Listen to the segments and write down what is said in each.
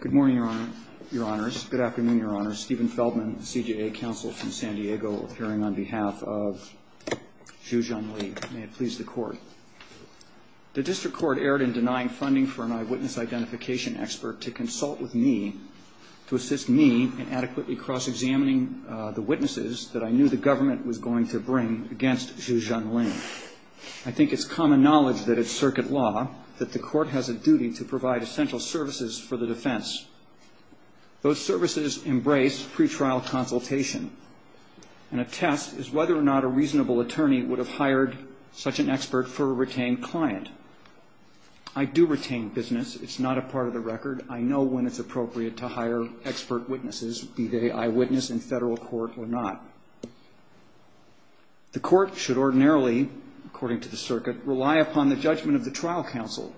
Good morning, Your Honors. Good afternoon, Your Honors. Stephen Feldman, CJA Counsel from San Diego, appearing on behalf of Xu Zhengli. May it please the Court. The District Court erred in denying funding for an eyewitness identification expert to consult with me, to assist me in adequately cross-examining the witnesses that I knew the government was going to bring against Xu Zhengli. I think it's common knowledge that it's circuit law that the Court has a duty to provide essential services for the defense. Those services embrace pretrial consultation, and a test is whether or not a reasonable attorney would have hired such an expert for a retained client. I do retain business. It's not a part of the record. I know when it's appropriate to hire expert witnesses, be they eyewitness in federal court or not. The Court should ordinarily, according to the circuit, rely upon the judgment of the trial counsel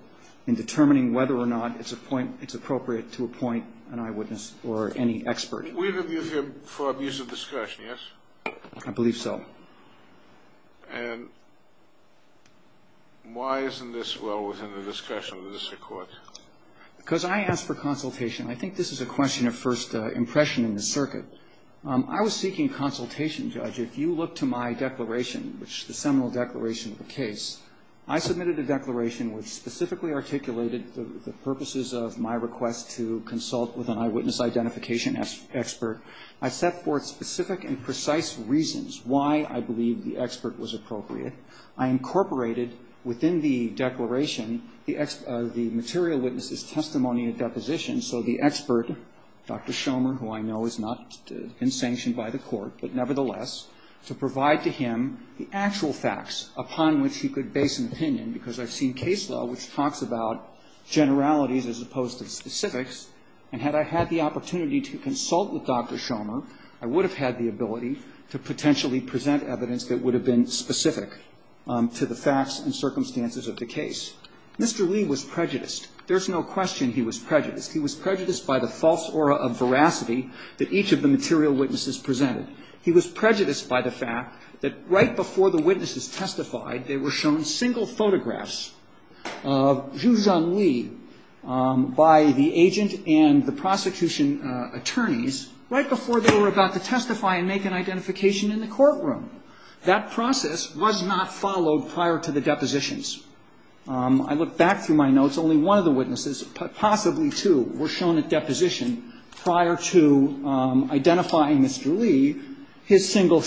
in determining whether or not it's appropriate to appoint an eyewitness or any expert. We interviewed him for abuse of discussion, yes? I believe so. And why isn't this well within the discussion of the District Court? Because I asked for consultation. I think this is a question of first impression in the circuit. I was seeking consultation, Judge. If you look to my declaration, which is the seminal declaration of the case, I submitted a declaration which specifically articulated the purposes of my request to consult with an eyewitness identification expert. I set forth specific and precise reasons why I believed the expert was appropriate. I incorporated within the declaration the material witness's testimony of deposition, so the expert, Dr. Shomer, who I know is not in sanction by the Court, but nevertheless, to provide to him the actual facts upon which he could base an opinion, because I've seen case law which talks about generalities as opposed to specifics. And had I had the opportunity to consult with Dr. Shomer, I would have had the ability to potentially present evidence that would have been specific to the facts and circumstances of the case. Mr. Lee was prejudiced. There's no question he was prejudiced. He was prejudiced by the false aura of veracity that each of the material witnesses presented. He was prejudiced by the fact that right before the witnesses testified, they were shown single photographs of Zhu Zhengli by the agent and the prosecution attorneys right before they were about to testify and make an identification in the courtroom. That process was not followed prior to the depositions. I look back through my notes. Only one of the witnesses, possibly two, were shown at deposition prior to identifying Mr. Lee, his single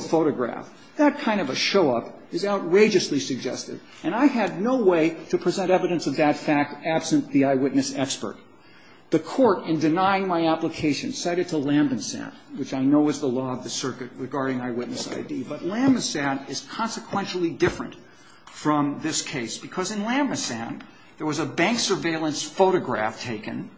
photograph. That kind of a show-up is outrageously suggestive, and I had no way to present evidence of that fact absent the eyewitness expert. The Court, in denying my application, cited to Lamb & Sand, which I know is the law of the circuit regarding eyewitness ID. But Lamb & Sand is consequentially different from this case, because in Lamb & Sand, there was a bank surveillance photograph taken.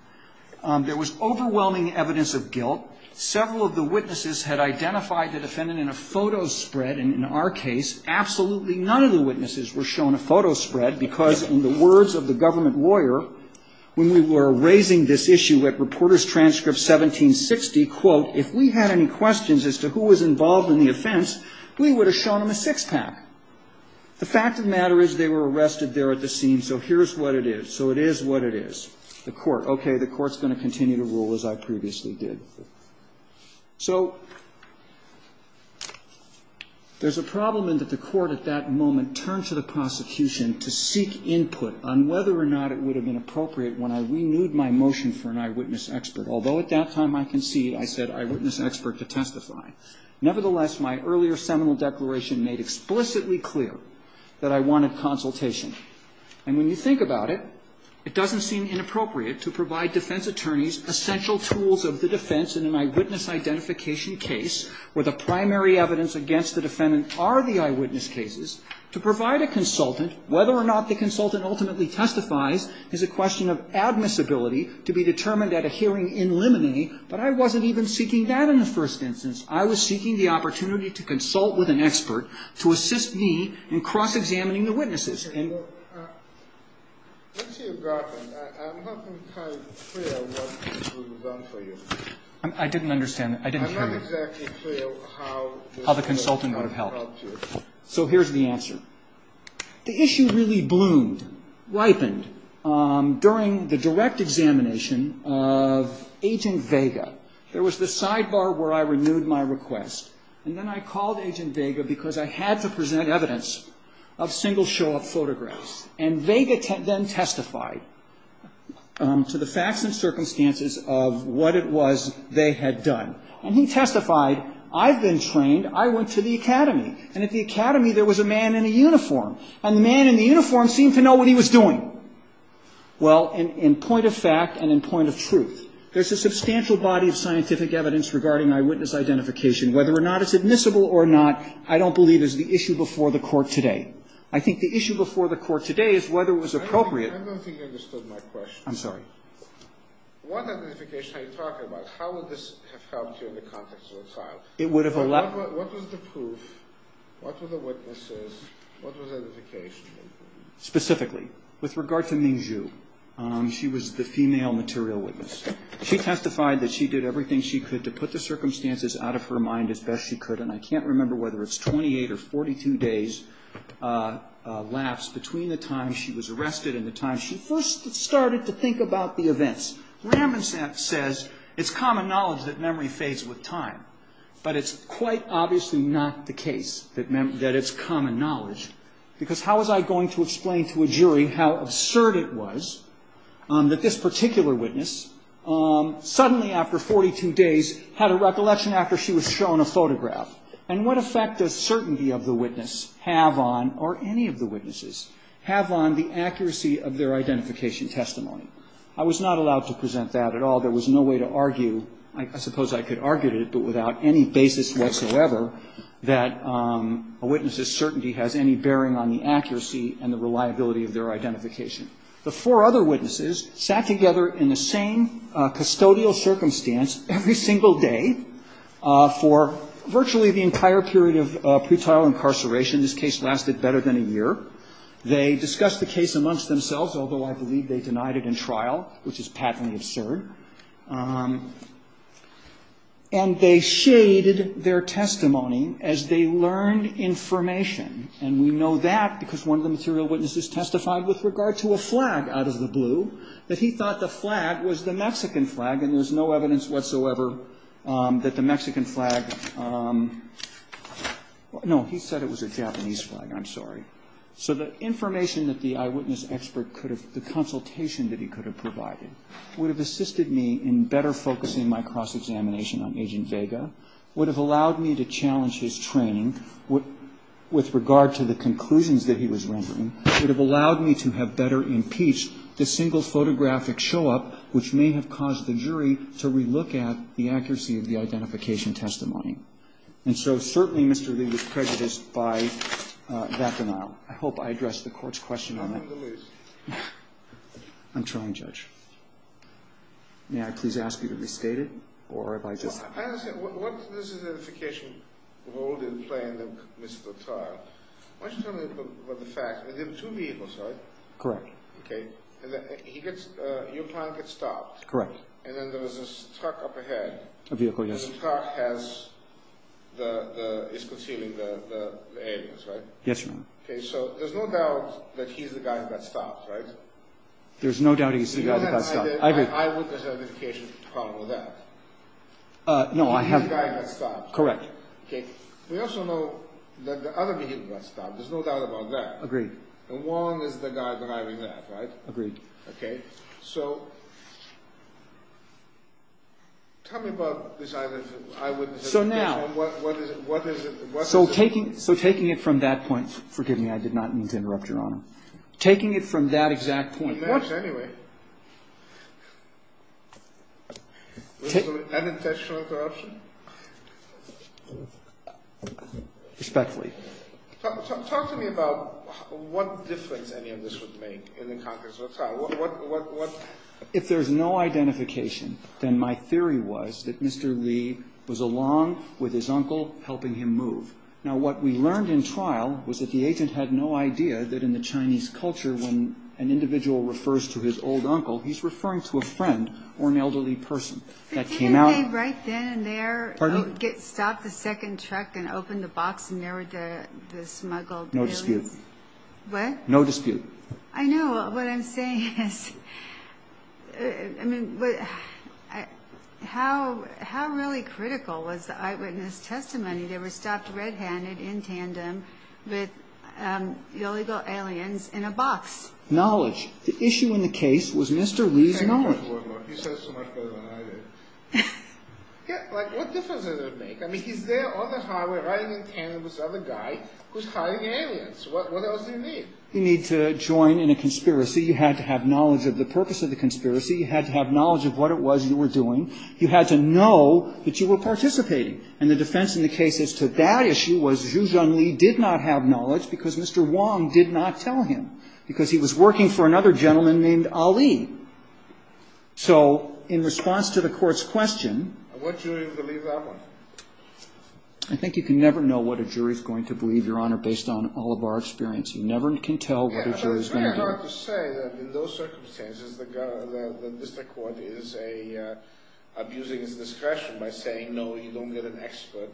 There was overwhelming evidence of guilt. Several of the witnesses had identified the defendant in a photo spread. And in our case, absolutely none of the witnesses were shown a photo spread, because in the words of the government lawyer, when we were raising this issue at Reporters Transcript 1760, quote, if we had any questions as to who was involved in the offense, we would have shown them a six-pack. The fact of the matter is they were arrested there at the scene, so here's what it is. So it is what it is. The Court. Okay. The Court's going to continue to rule as I previously did. So there's a problem in that the Court at that moment turned to the prosecution to seek input on whether or not it would have been appropriate when I renewed my motion for an eyewitness expert, although at that time I concede I said eyewitness expert to testify. Nevertheless, my earlier seminal declaration made explicitly clear that I wanted consultation. And when you think about it, it doesn't seem inappropriate to provide defense attorneys essential tools of the defense in an eyewitness identification case where the primary evidence against the defendant are the eyewitness cases, to provide a consultant whether or not the consultant ultimately testifies is a question of admissibility to be determined at a hearing in limine, but I wasn't even seeking that in the first instance. I was seeking the opportunity to consult with an expert to assist me in cross-examining the witnesses. I didn't understand that. I didn't hear you. How the consultant would have helped you. So here's the answer. The issue really bloomed, ripened during the direct examination of Agent Vega. There was the sidebar where I renewed my request, and then I called Agent Vega because I had to present evidence of single show-up photographs. And Vega then testified to the facts and circumstances of what it was they had done. And he testified, I've been trained, I went to the academy, and at the academy there was a man in a uniform. And the man in the uniform seemed to know what he was doing. Well, in point of fact and in point of truth, there's a substantial body of scientific evidence regarding eyewitness identification. Whether or not it's admissible or not, I don't believe is the issue before the court today. I think the issue before the court today is whether it was appropriate. I don't think you understood my question. I'm sorry. What identification are you talking about? How would this have helped you in the context of the trial? It would have allowed. What was the proof? What were the witnesses? What was the identification? Specifically, with regard to Ming Zhu, she was the female material witness. She testified that she did everything she could to put the circumstances out of her mind as best she could. And I can't remember whether it's 28 or 42 days' lapse between the time she was arrested and the time she first started to think about the events. Raman says it's common knowledge that memory fades with time. But it's quite obviously not the case that it's common knowledge. Because how was I going to explain to a jury how absurd it was that this particular witness suddenly after 42 days had a recollection after she was shown a photograph? And what effect does certainty of the witness have on, or any of the witnesses, have on the accuracy of their identification testimony? I was not allowed to present that at all. There was no way to argue. I suppose I could argue it, but without any basis whatsoever, that a witness's certainty has any bearing on the accuracy and the reliability of their identification. The four other witnesses sat together in the same custodial circumstance every single day for virtually the entire period of pretrial incarceration. This case lasted better than a year. They discussed the case amongst themselves, although I believe they denied it in trial, which is patently absurd. And they shaded their testimony as they learned information. And we know that because one of the material witnesses testified with regard to a flag out of the blue, that he thought the flag was the Mexican flag. And there's no evidence whatsoever that the Mexican flag, no, he said it was a Japanese flag. I'm sorry. So the information that the eyewitness expert could have, the consultation that he could have provided, would have assisted me in better focusing my cross-examination on Agent Vega, would have allowed me to challenge his training with regard to the conclusions that he was rendering, would have allowed me to have better impeached the single photographic show-up, which may have caused the jury to relook at the accuracy of the identification testimony. And so certainly Mr. Lee was prejudiced by that denial. I hope I addressed the Court's question on that. I'm trying, Judge. May I please ask you to restate it? I understand. What does the identification role play in the trial? Why don't you tell me about the fact that there are two vehicles, right? Correct. Okay. And your client gets stopped. Correct. And then there was this truck up ahead. A vehicle, yes. And the truck is concealing the aliens, right? Yes, Your Honor. Okay. So there's no doubt that he's the guy that got stopped, right? There's no doubt he's the guy that got stopped. I agree. So why is there an identification problem with that? No, I haven't. He's the guy that got stopped. Correct. Okay. We also know that the other vehicle got stopped. There's no doubt about that. Agreed. And Wong is the guy driving that, right? Agreed. Okay. So tell me about this eye-witness identification. So now. What is it? So taking it from that point. Forgive me, I did not mean to interrupt, Your Honor. Taking it from that exact point. I didn't mean to interrupt anyway. Unintentional interruption? Respectfully. Talk to me about what difference any of this would make in the context of a trial. If there's no identification, then my theory was that Mr. Lee was along with his uncle helping him move. Now, what we learned in trial was that the agent had no idea that in the Chinese culture, when an individual refers to his old uncle, he's referring to a friend or an elderly person. But didn't they right then and there stop the second truck and open the box and there were the smuggled billions? No dispute. What? No dispute. I know. What I'm saying is, I mean, how really critical was the eyewitness testimony? They were stopped red-handed in tandem with illegal aliens in a box. Knowledge. The issue in the case was Mr. Lee's knowledge. He said it so much better than I did. Yeah, like what difference does it make? I mean, he's there on the highway riding in tandem with this other guy who's hiding aliens. What else do you need? You need to join in a conspiracy. You had to have knowledge of the purpose of the conspiracy. You had to have knowledge of what it was you were doing. You had to know that you were participating. And the defense in the case as to that issue was Zhu Zhengli did not have knowledge because Mr. Wong did not tell him, because he was working for another gentleman named Ali. So in response to the Court's question. And what jury will believe that one? I think you can never know what a jury is going to believe, Your Honor, based on all of our experience. You never can tell what a jury is going to believe. Yeah, but it's very hard to say that in those circumstances the district court is abusing its discretion by saying, no, you don't get an expert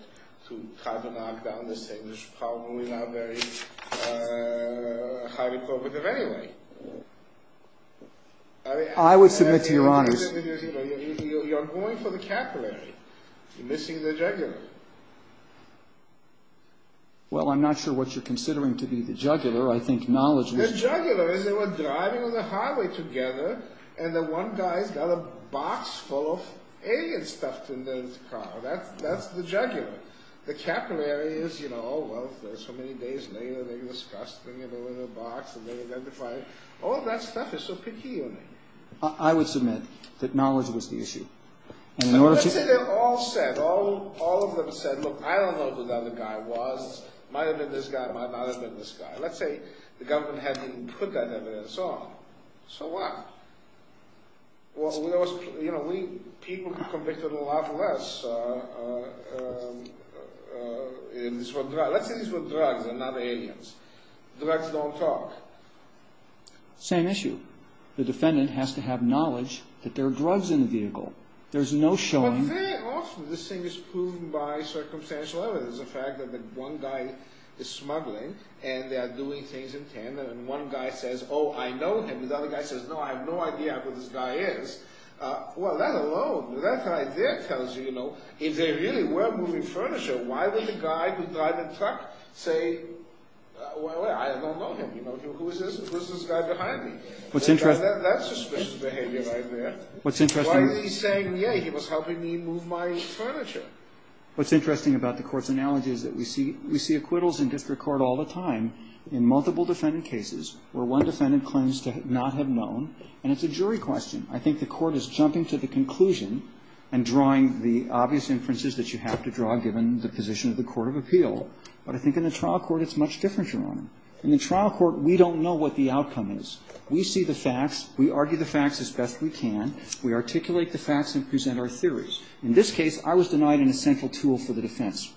to try to knock down this thing. There's probably not very highly cooperative anyway. I would submit to Your Honors. You're going for the capillary. You're missing the jugular. Well, I'm not sure what you're considering to be the jugular. I think knowledge is. The jugular is they were driving on the highway together, and the one guy's got a box full of alien stuff in his car. That's the jugular. The capillary is, you know, oh, well, so many days later they discussed it in a little box, and they identified it. All that stuff is so picky, isn't it? I would submit that knowledge was the issue. Let's say they all said, all of them said, look, I don't know who that other guy was. It might have been this guy. It might not have been this guy. Let's say the government hadn't even put that evidence on. So what? Well, you know, we people convicted a lot less. Let's say these were drugs and not aliens. Drugs don't talk. Same issue. The defendant has to have knowledge that there are drugs in the vehicle. There's no showing. But very often this thing is proven by circumstantial evidence, the fact that one guy is smuggling, and they are doing things in tandem, and one guy says, oh, I know him. The other guy says, no, I have no idea who this guy is. Well, that alone, that right there tells you, you know, if they really were moving furniture, why would the guy who drove the truck say, well, I don't know him. Who is this? Who is this guy behind me? That's suspicious behavior right there. Why was he saying, yeah, he was helping me move my furniture? What's interesting about the Court's analogy is that we see acquittals in district court all the time in multiple defendant cases where one defendant claims to not have known, and it's a jury question. I think the Court is jumping to the conclusion and drawing the obvious inferences that you have to draw given the position of the court of appeal. But I think in the trial court it's much different, Your Honor. In the trial court, we don't know what the outcome is. We see the facts. We argue the facts as best we can. We articulate the facts and present our theories. In this case, I was denied an essential tool for the defense.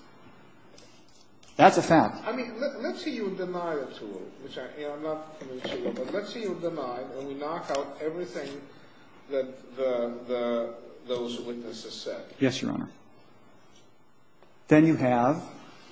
That's a fact. I mean, let's say you deny a tool, which I'm not familiar with, but let's say you deny it and we knock out everything that those witnesses said. Yes, Your Honor. Then you have,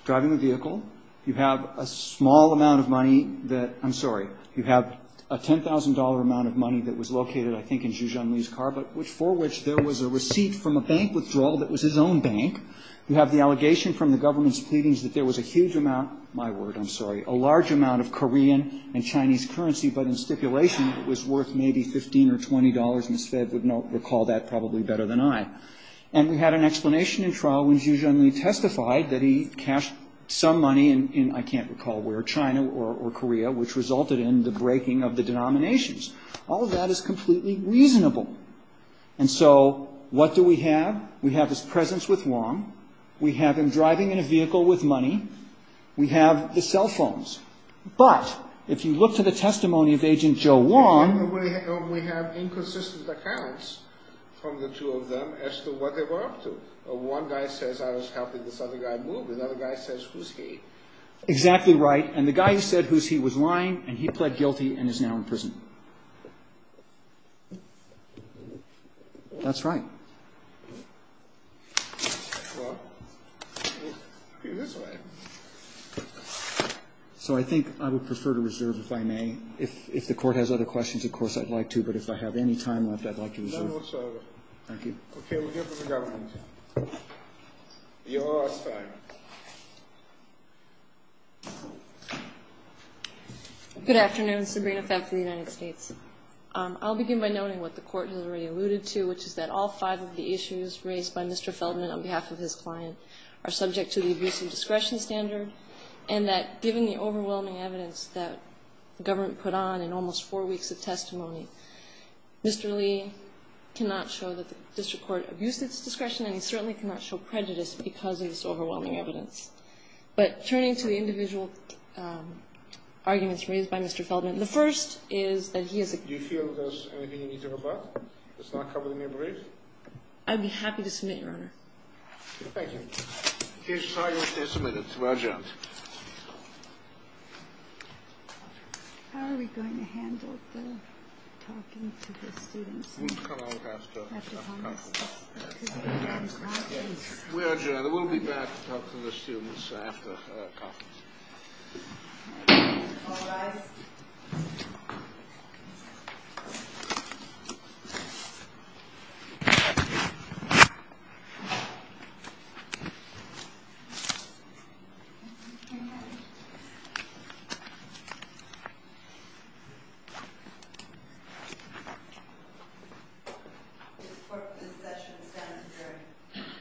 driving the vehicle, you have a small amount of money that – I'm sorry. You have a $10,000 amount of money that was located, I think, in Zhu Zhengli's car, but for which there was a receipt from a bank withdrawal that was his own bank. You have the allegation from the government's pleadings that there was a huge amount – my word, I'm sorry – a large amount of Korean and Chinese currency, but in stipulation it was worth maybe $15 or $20. Ms. Febb would recall that probably better than I. And we had an explanation in trial when Zhu Zhengli testified that he cashed some money in, I can't recall where, China or Korea, which resulted in the breaking of the denominations. All of that is completely reasonable. And so what do we have? We have his presence with Wong. We have him driving in a vehicle with money. We have the cell phones. But if you look to the testimony of Agent Joe Wong – We have inconsistent accounts from the two of them as to what they were up to. One guy says, I was helping this other guy move. Another guy says, who's he? Exactly right. And the guy who said who's he was lying and he pled guilty and is now in prison. That's right. So I think I would prefer to reserve, if I may. If the Court has other questions, of course, I'd like to. But if I have any time left, I'd like to reserve. No, no, sir. Thank you. Okay, we'll give it to the Governor. Your time. Good afternoon. Sabrina Fab from the United States. I'll begin by noting what the Court has already alluded to, which is that all five of the issues raised by Mr. Feldman on behalf of his client are subject to the abusive discretion standard, and that given the overwhelming evidence that the government put on in almost four weeks of testimony, Mr. Lee cannot show that the District Court abused its discretion and he certainly cannot show prejudice because of this overwhelming evidence. But turning to the individual arguments raised by Mr. Feldman, the first is that he is a... Do you feel there's anything you need to report? It's not covered in your brief? I'd be happy to submit, Your Honor. Thank you. Here's your time, here's your minutes. We're adjourned. How are we going to handle the talking to the students? We'll come out after conference. After conference. We're adjourned. We'll be back to talk to the students after conference. All rise. This session stands adjourned. Congratulations.